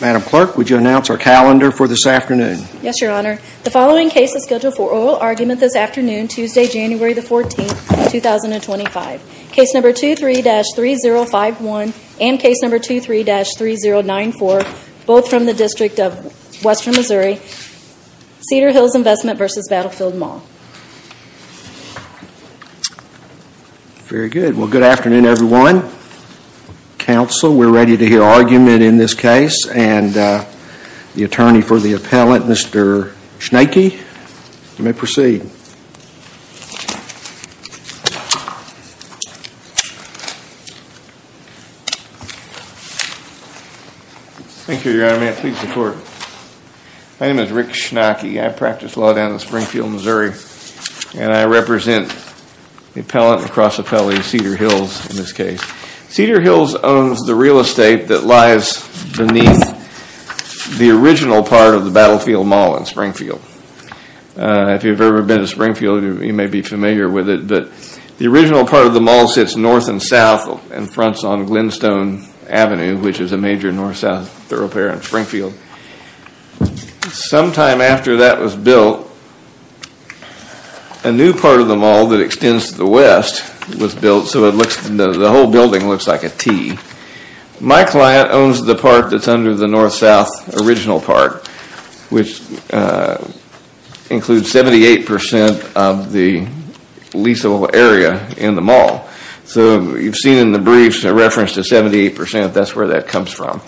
Madam Clerk, would you announce our calendar for this afternoon? Yes, Your Honor. The following case is scheduled for oral argument this afternoon, Tuesday, January 14, 2025. Case number 23-3051 and case number 23-3094, both from the District of Western Missouri, Cedar Hills Investment v. Battlefield Mall. Very good, well good afternoon everyone, counsel, we're ready to hear argument in this case and the attorney for the appellant, Mr. Schnecke, you may proceed. Thank you, Your Honor, may I please report? My name is Rick Schnecke, I practice law down in Springfield, Missouri, and I represent the appellant and cross appellee, Cedar Hills, in this case. Cedar Hills owns the real estate that lies beneath the original part of the Battlefield Mall in Springfield. If you've ever been to Springfield, you may be familiar with it, but the original part of the mall sits north and south and fronts on Glenstone Avenue, which is a major north-south thoroughfare in Springfield. Sometime after that was built, a new part of the mall that extends to the west was built, so the whole building looks like a T. My client owns the part that's under the north-south original part, which includes 78% of the leaseable area in the mall. So you've seen in the briefs a reference to 78%, that's where that comes from,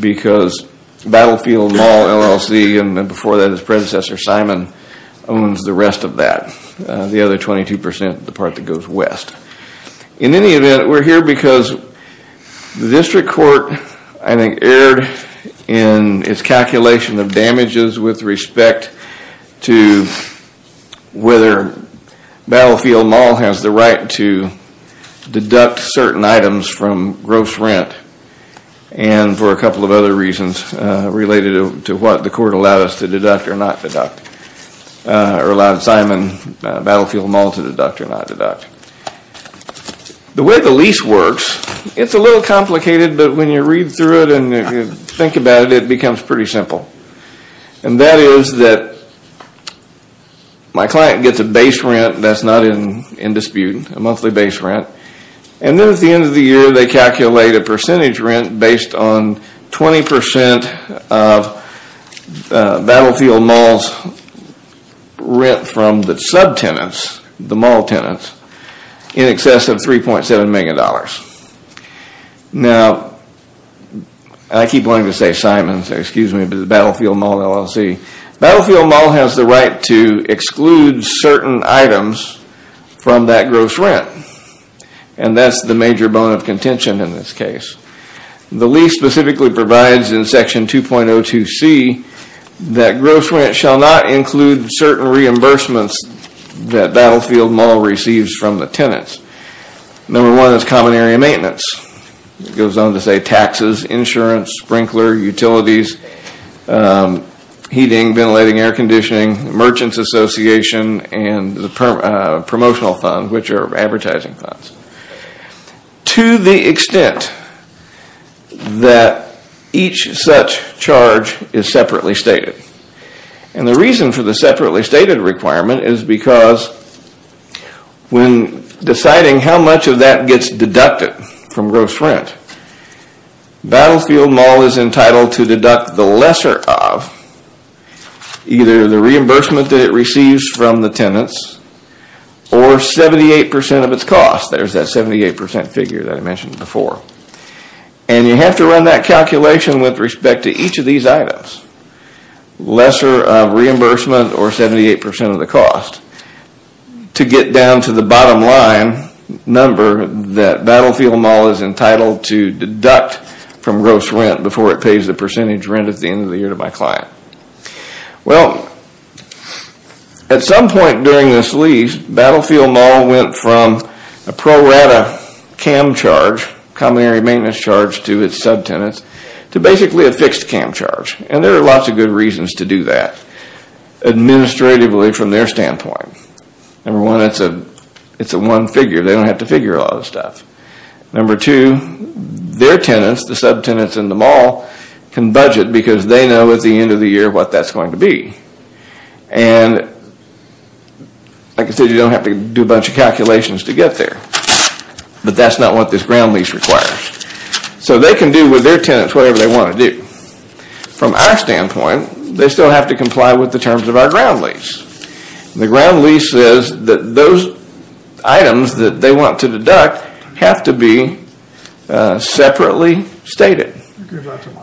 because Battlefield Mall LLC, and before that its predecessor, Simon, owns the rest of that, the other 22%, the part that goes west. In any event, we're here because the district court, I think, erred in its calculation of damages with respect to whether Battlefield Mall has the right to deduct certain items from gross rent, and for a couple of other reasons related to what the court allowed us to deduct or not deduct, or allowed Simon Battlefield Mall to deduct or not deduct. The way the lease works, it's a little complicated, but when you read through it and you think about it, it becomes pretty simple, and that is that my client gets a base rent that's not in dispute, a monthly base rent, and then at the end of the year they calculate a percentage rent based on 20% of Battlefield Mall's rent from the sub-tenants, the mall tenants, in excess of $3.7 million. Now, I keep wanting to say Simon, excuse me, but it's Battlefield Mall LLC. Battlefield Mall has the right to exclude certain items from that gross rent, and that's the major bone of contention in this case. The lease specifically provides in section 2.02c that gross rent shall not include certain reimbursements that Battlefield Mall receives from the tenants. Number one is common area maintenance, it goes on to say taxes, insurance, sprinkler, utilities, heating, ventilating, air conditioning, merchants association, and promotional funds, which are advertising funds. To the extent that each such charge is separately stated, and the reason for the separately citing how much of that gets deducted from gross rent, Battlefield Mall is entitled to deduct the lesser of either the reimbursement that it receives from the tenants or 78% of its cost. There's that 78% figure that I mentioned before, and you have to run that calculation with respect to each of these items, lesser of reimbursement or 78% of the cost, to get down to the bottom line number that Battlefield Mall is entitled to deduct from gross rent before it pays the percentage rent at the end of the year to my client. At some point during this lease, Battlefield Mall went from a pro rata CAM charge, common area maintenance charge, to its sub-tenants, to basically a fixed CAM charge, and there are lots of good reasons to do that, administratively from their standpoint. Number one, it's a one figure, they don't have to figure a lot of stuff. Number two, their tenants, the sub-tenants in the mall, can budget because they know at the end of the year what that's going to be, and like I said, you don't have to do a bunch of calculations to get there, but that's not what this ground lease requires. So they can do with their tenants whatever they want to do. From our standpoint, they still have to comply with the terms of our ground lease. The ground lease says that those items that they want to deduct have to be separately stated.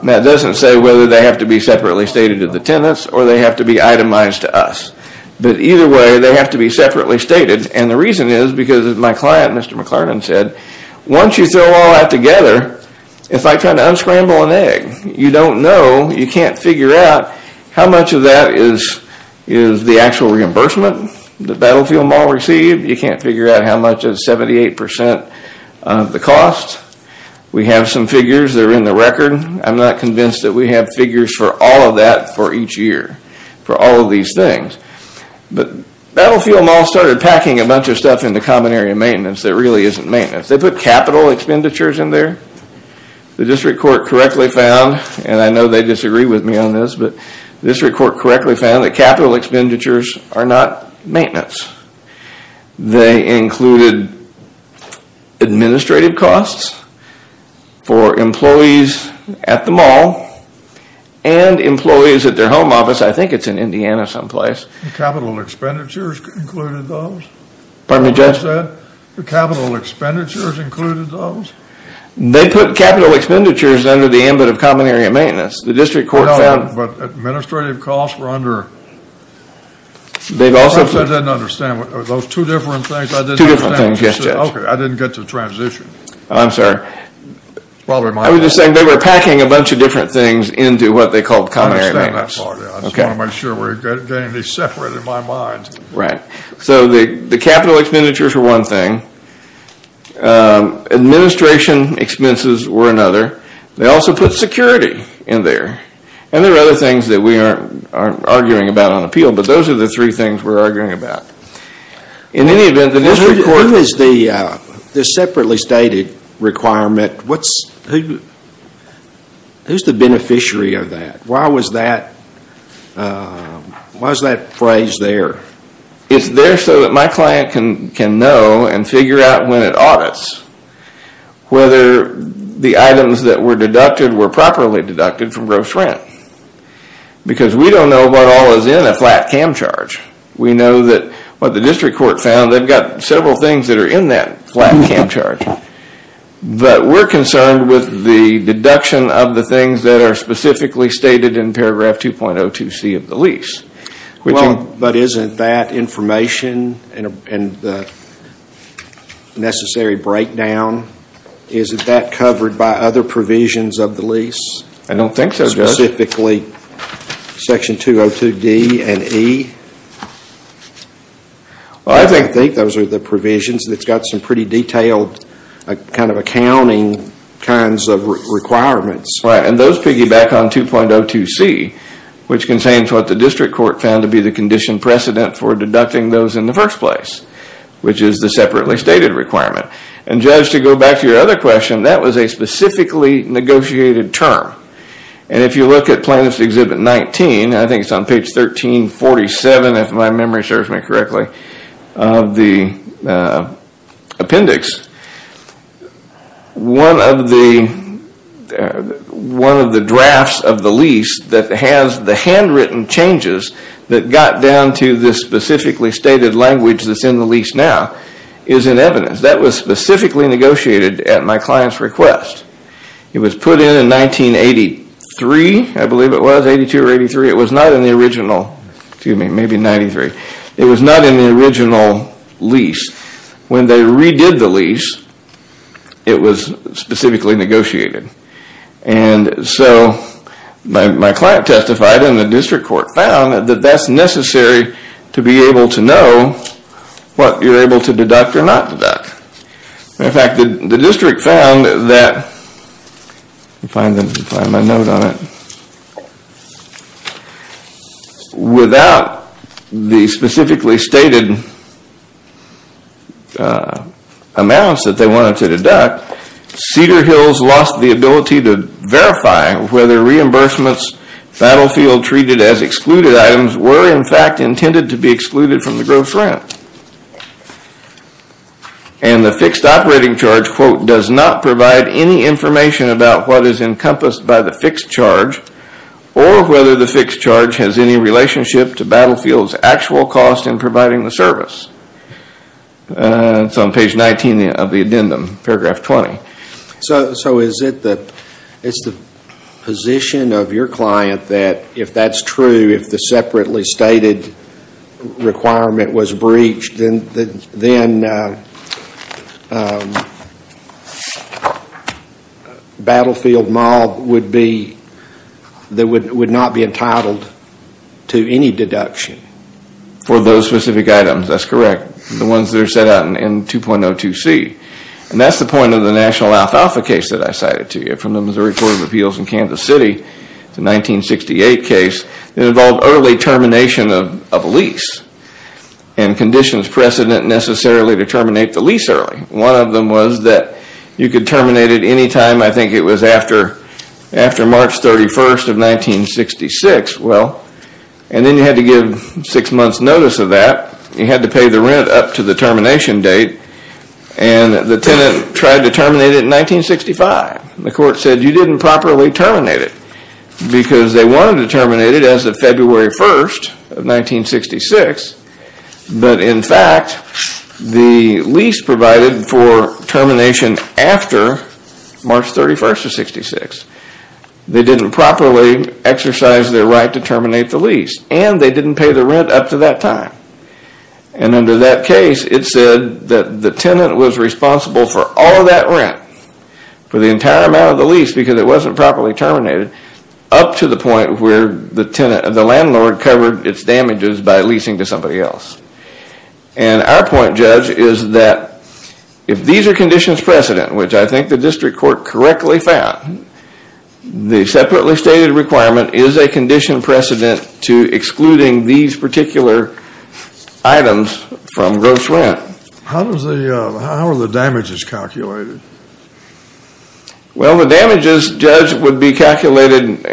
Now it doesn't say whether they have to be separately stated to the tenants or they have to be itemized to us, but either way they have to be separately stated, and the reason is because my client, Mr. McClarnon, said, once you throw all that together, it's like trying to unscramble an egg. You don't know, you can't figure out how much of that is the actual reimbursement that Battlefield Mall received. You can't figure out how much is 78% of the cost. We have some figures that are in the record, I'm not convinced that we have figures for all of that for each year, for all of these things. But Battlefield Mall started packing a bunch of stuff into common area maintenance that really isn't maintenance. They put capital expenditures in there. The district court correctly found, and I know they disagree with me on this, but the district court correctly found that capital expenditures are not maintenance. They included administrative costs for employees at the mall and employees at their home office, I think it's in Indiana someplace. Capital expenditures included those? Pardon me, Judge? The capital expenditures included those? They put capital expenditures under the ambit of common area maintenance. The district court found... No, but administrative costs were under... I also didn't understand, those two different things, I didn't understand. Two different things, yes, Judge. Okay, I didn't get to the transition. I'm sorry. I was just saying they were packing a bunch of different things into what they called common area maintenance. I understand that part, yeah. I just want to make sure we're getting these separated in my mind. Right. So the capital expenditures were one thing, administration expenses were another, they also put security in there, and there are other things that we aren't arguing about on appeal, but those are the three things we're arguing about. In any event, the district court... Who is the separately stated requirement, who's the beneficiary of that? Why was that phrase there? It's there so that my client can know and figure out when it audits whether the items that were deducted were properly deducted from gross rent. Because we don't know what all is in a flat CAM charge. We know that what the district court found, they've got several things that are in that flat CAM charge, but we're concerned with the deduction of the things that are specifically stated in paragraph 2.02c of the lease. Well, but isn't that information and the necessary breakdown, isn't that covered by other provisions of the lease? I don't think so, Judge. Specifically section 2.02d and e? I think those are the provisions that's got some pretty detailed kind of accounting kinds of requirements. Right. And those piggyback on 2.02c, which contains what the district court found to be the condition precedent for deducting those in the first place, which is the separately stated requirement. And Judge, to go back to your other question, that was a specifically negotiated term. And if you look at plaintiff's exhibit 19, I think it's on page 1347, if my memory serves me correctly, of the appendix, one of the drafts of the lease that has the handwritten changes that got down to this specifically stated language that's in the lease now is in evidence. That was specifically negotiated at my client's request. It was put in 1983, I believe it was, 82 or 83, it was not in the original, excuse me, maybe 93. It was not in the original lease. When they redid the lease, it was specifically negotiated. And so my client testified and the district court found that that's necessary to be able to know what you're able to deduct or not deduct. In fact, the district found that, let me find my note on it, without the specifically stated amounts that they wanted to deduct, Cedar Hills lost the ability to verify whether reimbursements battlefield treated as excluded items were in fact intended to be excluded from the gross rent. And the fixed operating charge, quote, does not provide any information about what is encompassed by the fixed charge or whether the fixed charge has any relationship to battlefield's actual cost in providing the service. It's on page 19 of the addendum, paragraph 20. So is it the position of your client that if that's true, if the separately stated requirement was breached, then Battlefield Mall would not be entitled to any deduction? For those specific items, that's correct. The ones that are set out in 2.02c. And that's the point of the national alfalfa case that I cited to you. From the Missouri Court of Appeals in Kansas City, the 1968 case, it involved early termination of a lease and conditions precedent necessarily to terminate the lease early. One of them was that you could terminate it any time, I think it was after March 31st of 1966, well, and then you had to give six months notice of that, you had to pay the tenant up to the termination date, and the tenant tried to terminate it in 1965. The court said you didn't properly terminate it because they wanted to terminate it as of February 1st of 1966, but in fact, the lease provided for termination after March 31st of 1966. They didn't properly exercise their right to terminate the lease, and they didn't pay the rent up to that time. And under that case, it said that the tenant was responsible for all of that rent, for the entire amount of the lease because it wasn't properly terminated, up to the point where the tenant, the landlord covered its damages by leasing to somebody else. And our point, Judge, is that if these are conditions precedent, which I think the district court correctly found, the separately stated requirement is a condition precedent to excluding these particular items from gross rent. How are the damages calculated? Well, the damages, Judge, would be calculated,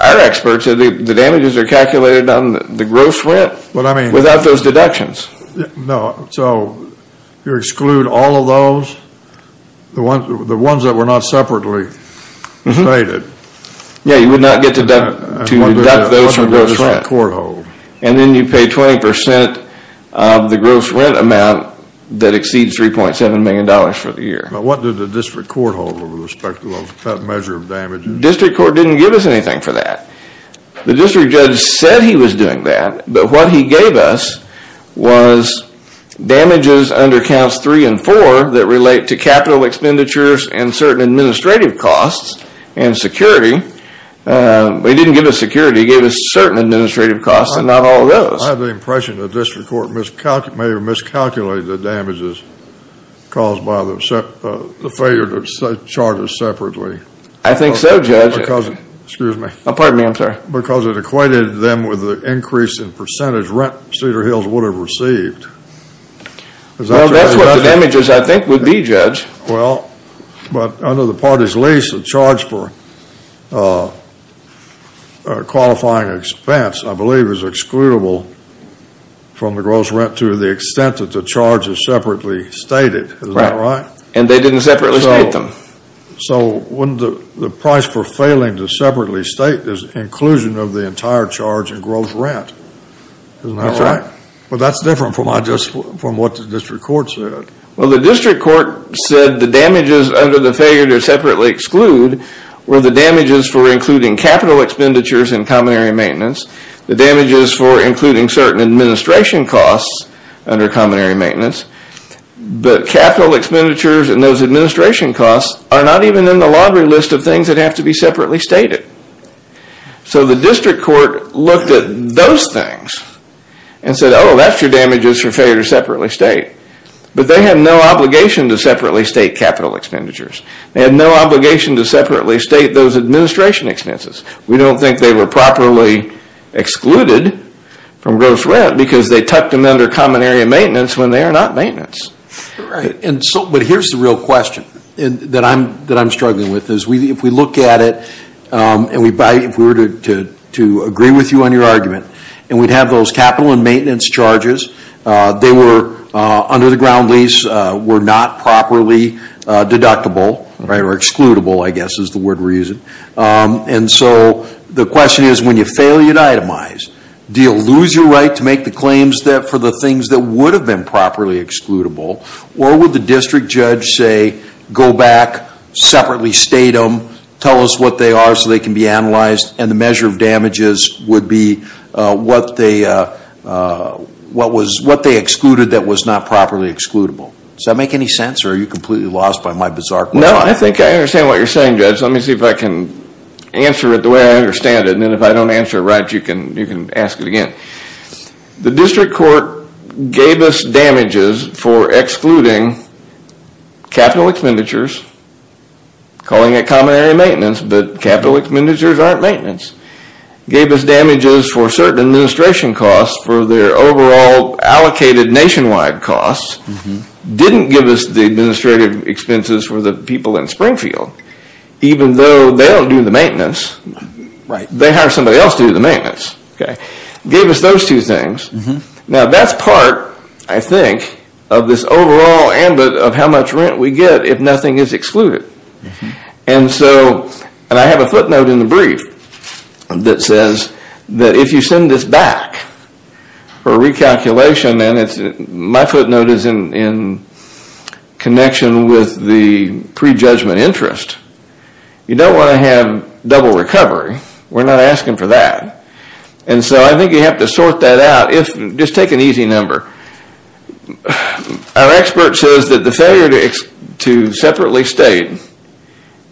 our experts, the damages are calculated on the gross rent without those deductions. No, so you exclude all of those, the ones that were not separately stated? Yeah, you would not get to deduct those from gross rent. What does the district court hold? And then you pay 20% of the gross rent amount that exceeds $3.7 million for the year. What did the district court hold with respect to that measure of damages? District court didn't give us anything for that. The district judge said he was doing that, but what he gave us was damages under counts three and four that relate to capital expenditures and certain administrative costs and security. He didn't give us security, he gave us certain administrative costs and not all of those. I have the impression that the district court may have miscalculated the damages caused by the failure to charge us separately. I think so, Judge. Because it equated them with the increase in percentage rent Cedar Hills would have received. Well, that's what the damages, I think, would be, Judge. Well, but under the party's lease, the charge for a qualifying expense, I believe, is excludable from the gross rent to the extent that the charge is separately stated. Is that right? Right. And they didn't separately state them. So wouldn't the price for failing to separately state is inclusion of the entire charge in gross rent? Isn't that right? That's right. But that's different from what the district court said. Well, the district court said the damages under the failure to separately exclude were the damages for including capital expenditures and common area maintenance, the damages for including certain administration costs under common area maintenance, but capital expenditures and those administration costs are not even in the lottery list of things that have to be separately stated. So the district court looked at those things and said, oh, that's your damages for failure to separately state. But they have no obligation to separately state capital expenditures. They have no obligation to separately state those administration expenses. We don't think they were properly excluded from gross rent because they tucked them under common area maintenance when they are not maintenance. But here's the real question that I'm struggling with. If we look at it and if we were to agree with you on your argument and we'd have those capital and maintenance charges, they were under the ground lease, were not properly deductible or excludable, I guess is the word we're using. And so the question is, when you fail your itemize, do you lose your right to make the claims for the things that would have been properly excludable or would the district judge say, go back, separately state them, tell us what they are so they can be analyzed and the measure of damages would be what they excluded that was not properly excludable. Does that make any sense or are you completely lost by my bizarre question? No, I think I understand what you're saying, Judge. Let me see if I can answer it the way I understand it and if I don't answer it right, you can ask it again. The district court gave us damages for excluding capital expenditures, calling it common area maintenance, but capital expenditures aren't maintenance, gave us damages for certain administration costs for their overall allocated nationwide costs, didn't give us the administrative expenses for the people in Springfield, even though they don't do the maintenance, they hire somebody else to do the maintenance, gave us those two things. Now that's part, I think, of this overall ambit of how much rent we get if nothing is excluded. And so, and I have a footnote in the brief that says that if you send this back for recalculation and my footnote is in connection with the prejudgment interest, you don't want to have double recovery, we're not asking for that. And so I think you have to sort that out if, just take an easy number, our expert says that the failure to separately state,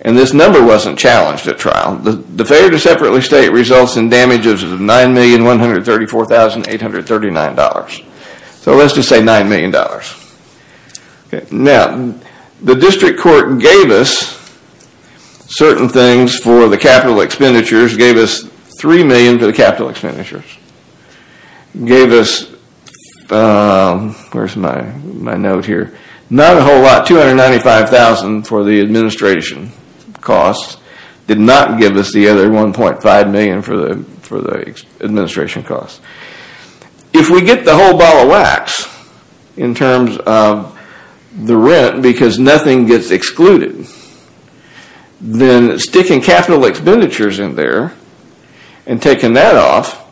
and this number wasn't challenged at trial, the failure to separately state results in damages of $9,134,839. So let's just say $9 million. Now the district court gave us certain things for the capital expenditures, gave us $3 million for the capital expenditures, gave us, where's my note here, not a whole lot, $295,000 for the administration costs, did not give us the other $1.5 million for the administration costs. If we get the whole ball of wax in terms of the rent because nothing gets excluded, then sticking capital expenditures in there and taking that off,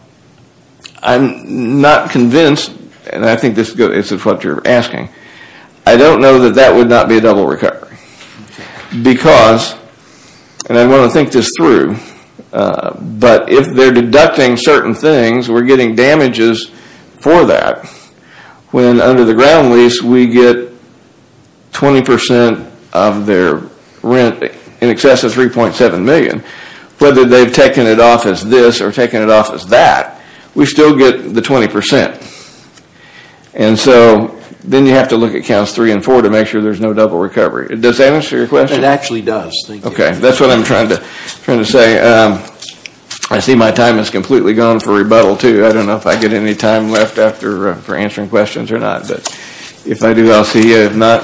I'm not convinced, and I think this is what you're asking, I don't know that that would not be a double recovery. Because, and I want to think this through, but if they're deducting certain things, we're getting damages for that, when under the ground lease we get 20% of their rent in excess of $3.7 million, whether they've taken it off as this or taken it off as that, we still get the 20%. And so then you have to look at counts 3 and 4 to make sure there's no double recovery. Does that answer your question? It actually does. Okay. That's what I'm trying to say. I see my time has completely gone for rebuttal too. I don't know if I get any time left for answering questions or not. If I do, I'll see you. If not,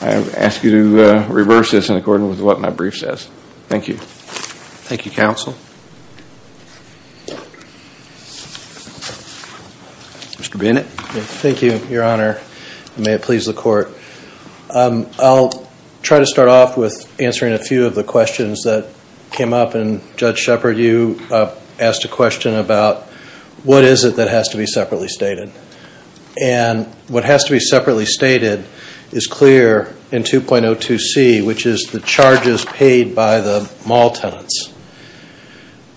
I ask you to reverse this in accordance with what my brief says. Thank you. Thank you, counsel. Mr. Bennett. Thank you, your honor, and may it please the court. I'll try to start off with answering a few of the questions that came up, and Judge Shepard, you asked a question about what is it that has to be separately stated. And what has to be separately stated is clear in 2.02c, which is the charges paid by the mall tenants.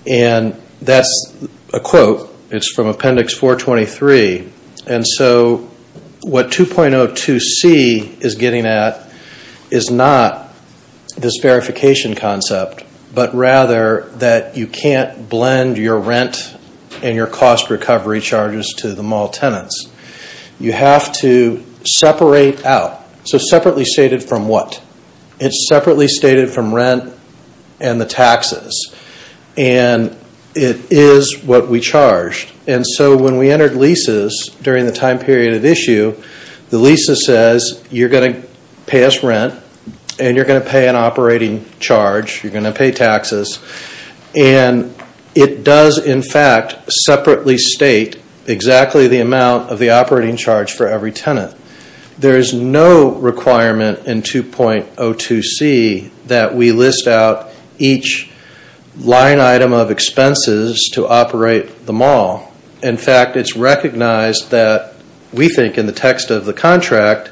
And that's a quote. It's from appendix 423. And so what 2.02c is getting at is not this verification concept, but rather that you can't blend your rent and your cost recovery charges to the mall tenants. You have to separate out. So separately stated from what? It's separately stated from rent and the taxes. And it is what we charged. And so when we entered leases during the time period of issue, the leases says you're going to pay us rent, and you're going to pay an operating charge, you're going to pay taxes. And it does, in fact, separately state exactly the amount of the operating charge for every tenant. There is no requirement in 2.02c that we list out each line item of expenses to operate the mall. In fact, it's recognized that we think in the text of the contract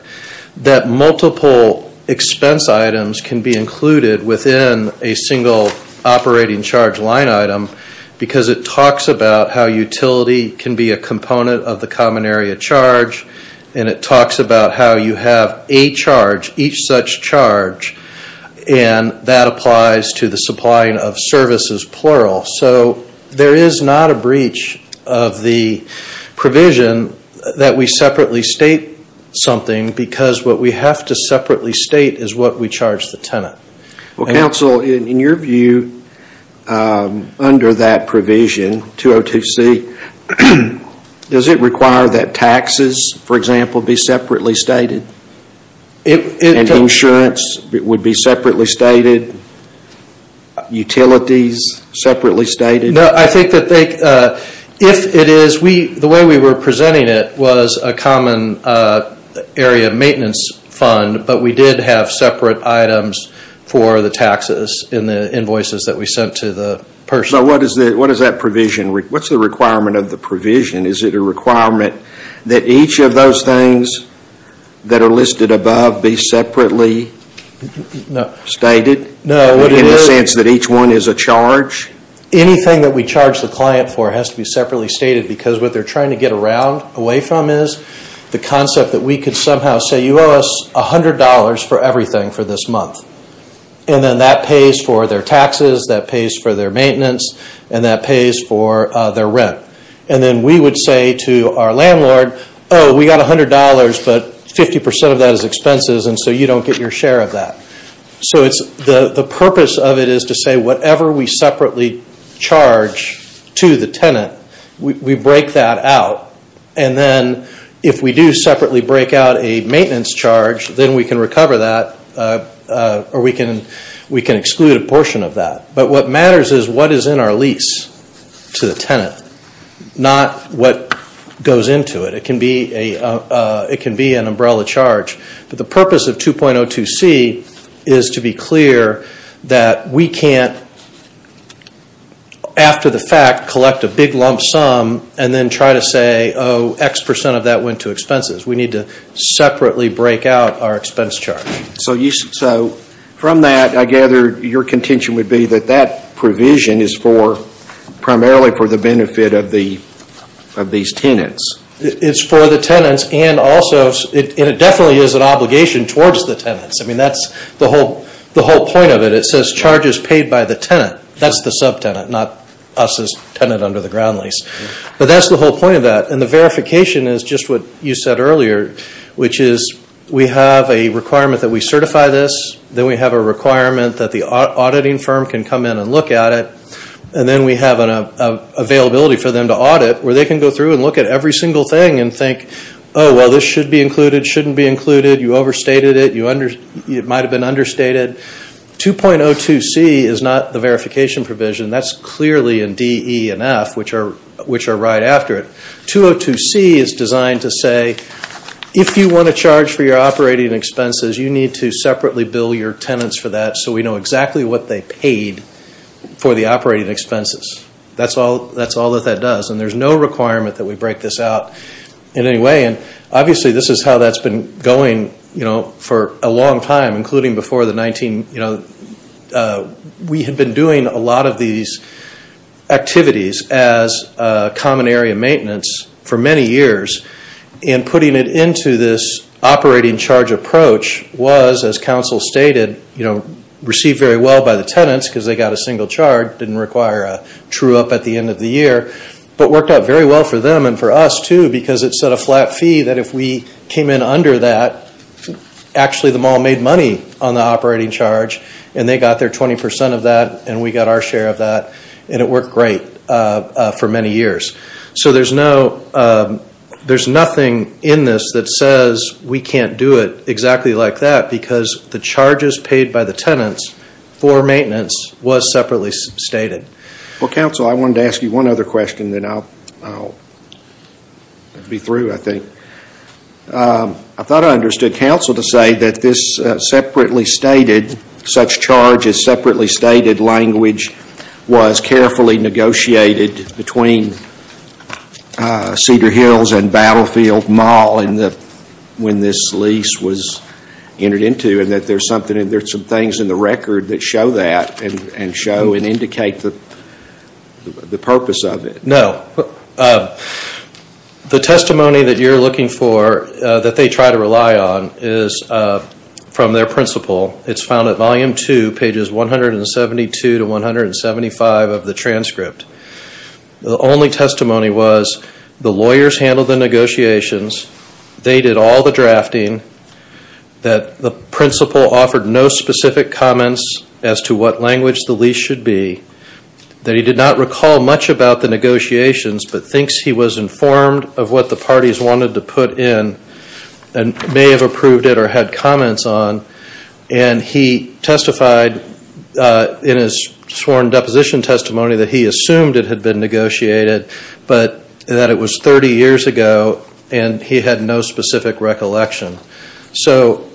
that multiple expense items can be included within a single operating charge line item because it talks about how utility can be a component of the common area charge. And it talks about how you have a charge, each such charge. And that applies to the supplying of services, plural. So there is not a breach of the provision that we separately state something because what we have to separately state is what we charge the tenant. Well, counsel, in your view, under that provision, 2.02c, does it require that taxes, for example, be separately stated? And insurance would be separately stated? Utilities separately stated? No, I think that if it is, the way we were presenting it was a common area maintenance fund, but we did have separate items for the taxes in the invoices that we sent to the person. So what is that provision? What's the requirement of the provision? Is it a requirement that each of those things that are listed above be separately stated? In the sense that each one is a charge? Anything that we charge the client for has to be separately stated because what they are trying to get away from is the concept that we could somehow say, you owe us $100 for everything for this month. And then that pays for their taxes, that pays for their maintenance, and that pays for their rent. And then we would say to our landlord, oh, we got $100, but 50% of that is expenses and so you don't get your share of that. So the purpose of it is to say whatever we separately charge to the tenant, we break that out. And then if we do separately break out a maintenance charge, then we can recover that or we can exclude a portion of that. But what matters is what is in our lease to the tenant, not what goes into it. It can be an umbrella charge. But the purpose of 2.02c is to be clear that we can't, after the fact, collect a big lump sum and then try to say, oh, X% of that went to expenses. We need to separately break out our expense charge. So from that, I gather your contention would be that that provision is primarily for the benefit of these tenants. It's for the tenants and it definitely is an obligation towards the tenants. That's the whole point of it. It says charges paid by the tenant. That's the sub-tenant, not us as tenant under the ground lease. But that's the whole point of that. And the verification is just what you said earlier, which is we have a requirement that we certify this. Then we have a requirement that the auditing firm can come in and look at it. And then we have an availability for them to audit where they can go through and look at every single thing and think, oh, well, this should be included, shouldn't be included. You overstated it. It might have been understated. 2.02c is not the verification provision. That's clearly in D, E, and F, which are right after it. 2.02c is designed to say, if you want to charge for your operating expenses, you need to separately bill your tenants for that so we know exactly what they paid for the operating expenses. That's all that that does. And there's no requirement that we break this out in any way. Obviously this is how that's been going for a long time, including before the 19. You know, we had been doing a lot of these activities as common area maintenance for many years, and putting it into this operating charge approach was, as counsel stated, received very well by the tenants because they got a single charge, didn't require a true-up at the end of the year, but worked out very well for them and for us, too, because it set a flat fee that if we came in under that, actually the mall made money on the operating charge, and they got their 20% of that, and we got our share of that, and it worked great for many years. So there's nothing in this that says we can't do it exactly like that because the charges paid by the tenants for maintenance was separately stated. Well, counsel, I wanted to ask you one other question, then I'll be through, I think. I thought I understood counsel to say that this separately stated, such charge as separately stated language was carefully negotiated between Cedar Hills and Battlefield Mall when this lease was entered into, and that there's some things in the record that show that, and show and indicate the purpose of it. No. The testimony that you're looking for that they try to rely on is from their principal. It's found at volume two, pages 172 to 175 of the transcript. The only testimony was the lawyers handled the negotiations, they did all the drafting, that the principal offered no specific comments as to what language the lease should be, that he did not recall much about the negotiations, but thinks he was informed of what the parties wanted to put in, and may have approved it or had comments on, and he testified in his sworn deposition testimony that he assumed it had been negotiated, but that it was thirty years ago, and he had no specific recollection. So,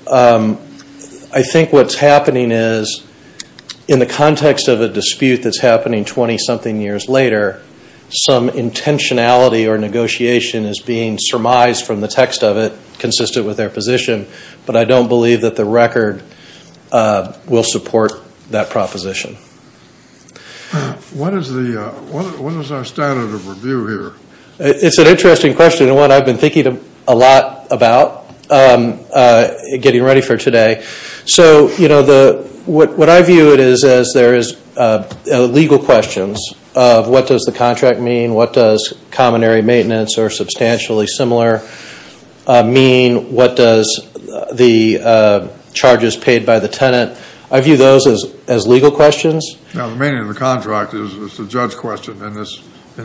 I think what's happening is, in the context of a dispute that's happening twenty-something years later, some intentionality or negotiation is being surmised from the text of it, consistent with their position, but I don't believe that the record will support that proposition. What is our standard of review here? It's an interesting question, and one I've been thinking a lot about, getting ready for today. So, what I view it as, there is legal questions of what does the contract mean, what does common area maintenance, or substantially similar, mean, what does the charges paid by the tenant, I view those as legal questions. Now, the meaning of the contract is a judge question in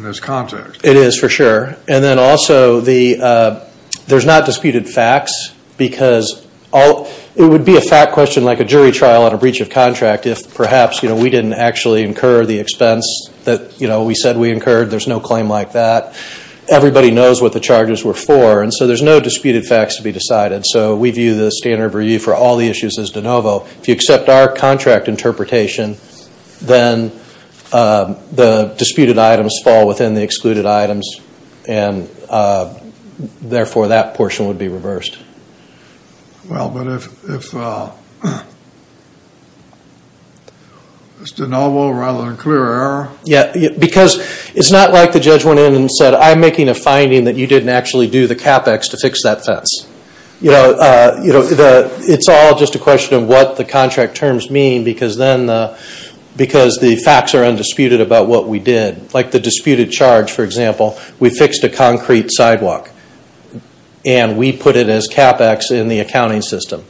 this context. It is, for sure, and then also, there's not disputed facts, because it would be a fact question like a jury trial on a breach of contract, if perhaps we didn't actually incur the expense that we said we incurred, there's no claim like that. Everybody knows what the charges were for, and so there's no disputed facts to be decided, so we view the standard of review for all the issues as de novo. If you accept our contract interpretation, then the disputed items fall within the excluded items, and therefore, that portion would be reversed. Well, but if it's de novo rather than clear error? Yeah, because it's not like the judge went in and said, I'm making a finding that you didn't actually do the CAPEX to fix that fence. It's all just a question of what the contract terms mean, because then, because the facts are undisputed about what we did, like the disputed charge, for example, we fixed a concrete sidewalk, and we put it as CAPEX in the accounting system.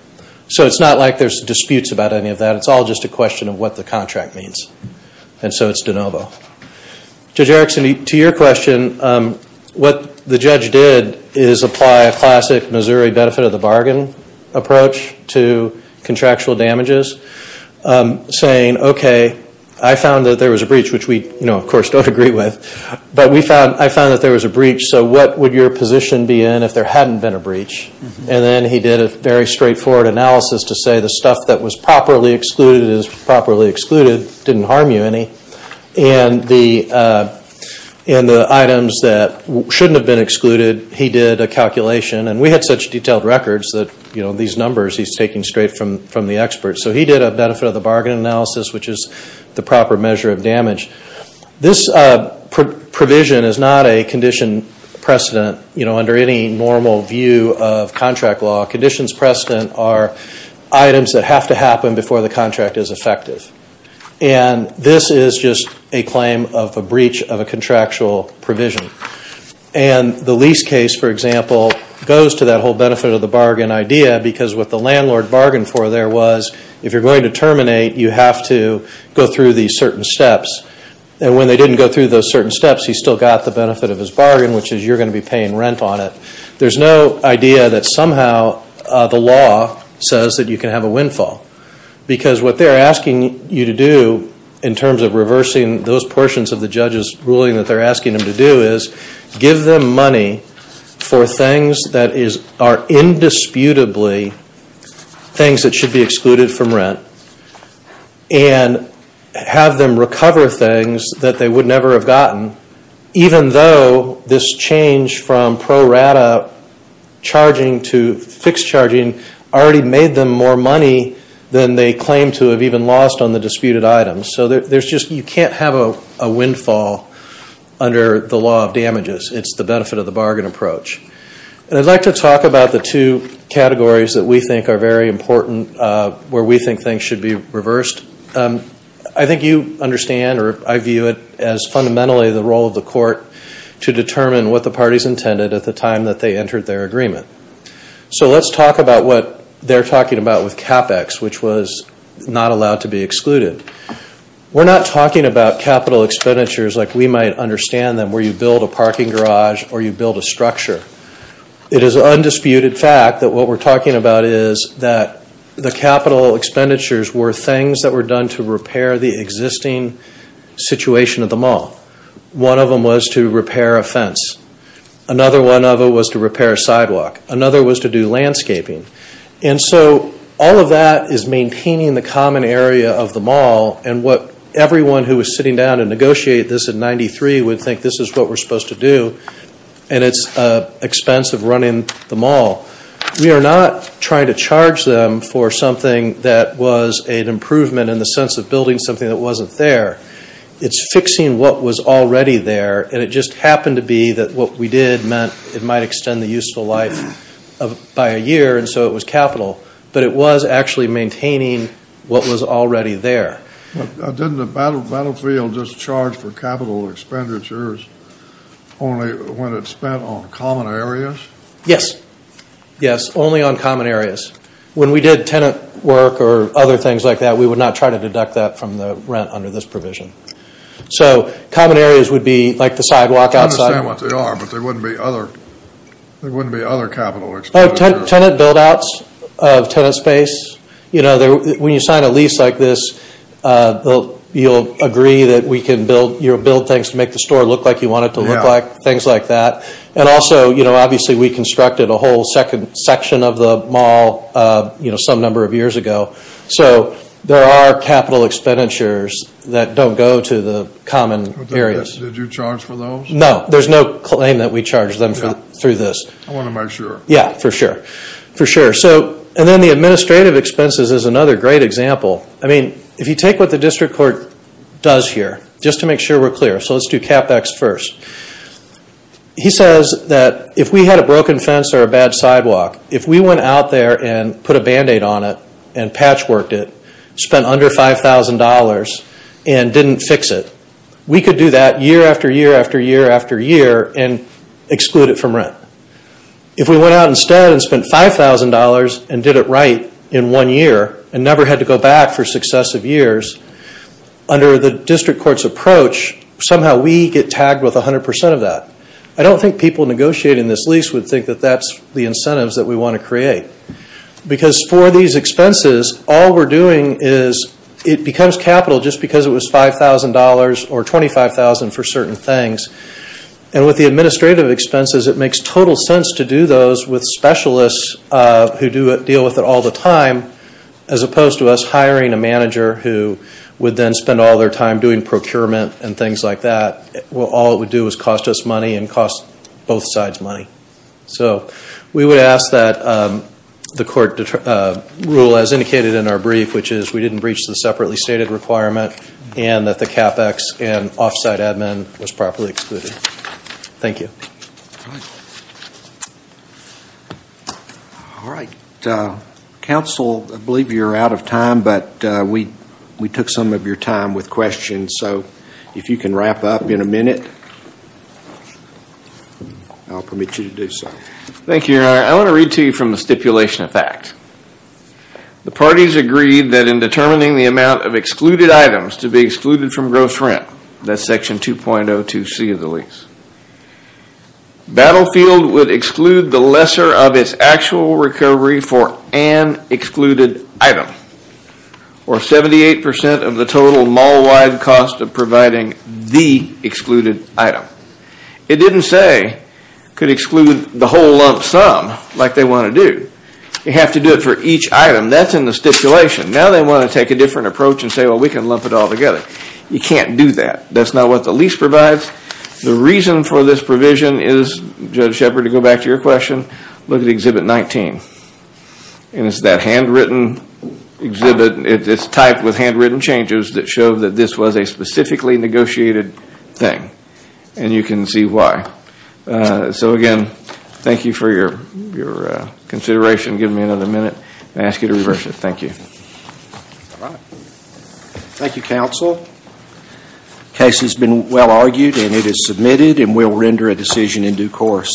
So it's not like there's disputes about any of that. It's all just a question of what the contract means, and so it's de novo. Judge Erickson, to your question, what the judge did is apply a classic Missouri benefit of the bargain approach to contractual damages, saying, okay, I found that there was a breach, which we, of course, don't agree with, but I found that there was a breach, so what would your position be in if there hadn't been a breach, and then he did a very straightforward analysis to say the stuff that was properly excluded is properly excluded, didn't harm you any, and the items that shouldn't have been excluded, he did a calculation, and we had such detailed records that these numbers he's taking straight from the experts. So he did a benefit of the bargain analysis, which is the proper measure of damage. This provision is not a condition precedent under any normal view of contract law. Conditions precedent are items that have to happen before the contract is effective, and this is just a claim of a breach of a contractual provision, and the lease case, for example, goes to that whole benefit of the bargain idea, because what the landlord bargained for there was, if you're going to terminate, you have to go through these certain steps, and when they didn't go through those certain steps, he still got the benefit of his bargain, which is you're going to be paying rent on it. There's no idea that somehow the law says that you can have a windfall, because what they're asking you to do in terms of reversing those portions of the judge's ruling that they're asking him to do is give them money for things that are indisputably things that should be excluded from rent, and have them recover things that they would never have gotten, even though this change from pro rata charging to fixed charging already made them more money than they claim to have even lost on the disputed items. So you can't have a windfall under the law of damages. It's the benefit of the bargain approach. I'd like to talk about the two categories that we think are very important, where we think things should be reversed. I think you understand, or I view it as fundamentally the role of the court to determine what the parties intended at the time that they entered their agreement. So let's talk about what they're talking about with CapEx, which was not allowed to be excluded. We're not talking about capital expenditures like we might understand them, where you build a parking garage or you build a structure. It is an undisputed fact that what we're talking about is that the capital expenditures were things that were done to repair the existing situation at the mall. One of them was to repair a fence. Another one of them was to repair a sidewalk. Another was to do landscaping. And so all of that is maintaining the common area of the mall and what everyone who was sitting down to negotiate this in 93 would think this is what we're supposed to do and it's expensive running the mall. We are not trying to charge them for something that was an improvement in the sense of building something that wasn't there. It's fixing what was already there. And it just happened to be that what we did meant it might extend the useful life by a year and so it was capital. But it was actually maintaining what was already there. Didn't the battlefield just charge for capital expenditures only when it spent on common areas? Yes. Yes, only on common areas. When we did tenant work or other things like that, we would not try to deduct that from the rent under this provision. So common areas would be like the sidewalk outside. I understand what they are, but there wouldn't be other capital expenditures. Tenant build outs of tenant space, you know, when you sign a lease like this, you'll agree that we can build things to make the store look like you want it to look like, things like that. And also, you know, obviously we constructed a whole second section of the mall some number of years ago. So there are capital expenditures that don't go to the common areas. Did you charge for those? No. There's no claim that we charged them through this. I want to make sure. Yeah. For sure. And then the administrative expenses is another great example. I mean, if you take what the district court does here, just to make sure we're clear, so let's do CapEx first. He says that if we had a broken fence or a bad sidewalk, if we went out there and put a Band-Aid on it and patchworked it, spent under $5,000 and didn't fix it, we could do that year after year after year after year and exclude it from rent. If we went out instead and spent $5,000 and did it right in one year and never had to go back for successive years, under the district court's approach, somehow we get tagged with 100% of that. I don't think people negotiating this lease would think that that's the incentives that we want to create because for these expenses, all we're doing is it becomes capital just because it was $5,000 or $25,000 for certain things and with the administrative expenses, it makes total sense to do those with specialists who deal with it all the time as opposed to us hiring a manager who would then spend all their time doing procurement and things like that. All it would do is cost us money and cost both sides money. So we would ask that the court rule as indicated in our brief, which is we didn't breach the separately stated requirement and that the CapEx and off-site admin was properly excluded. Thank you. All right. All right. Counsel, I believe you're out of time, but we took some of your time with questions. If you can wrap up in a minute, I'll permit you to do so. Thank you, Your Honor. I want to read to you from the stipulation of fact. The parties agreed that in determining the amount of excluded items to be excluded from gross rent, that's section 2.02C of the lease, Battlefield would exclude the lesser of its actual recovery for an excluded item or 78% of the total mall-wide cost of providing the excluded item. It didn't say it could exclude the whole lump sum like they want to do. You have to do it for each item. That's in the stipulation. Now they want to take a different approach and say, well, we can lump it all together. You can't do that. That's not what the lease provides. The reason for this provision is, Judge Shepard, to go back to your question, look at Exhibit 19. It's that handwritten exhibit. It's typed with handwritten changes that show that this was a specifically negotiated thing. You can see why. Again, thank you for your consideration. Give me another minute. I ask you to reverse it. Thank you. All right. Thank you, Counsel. The case has been well argued and it is submitted and we'll render a decision in due course.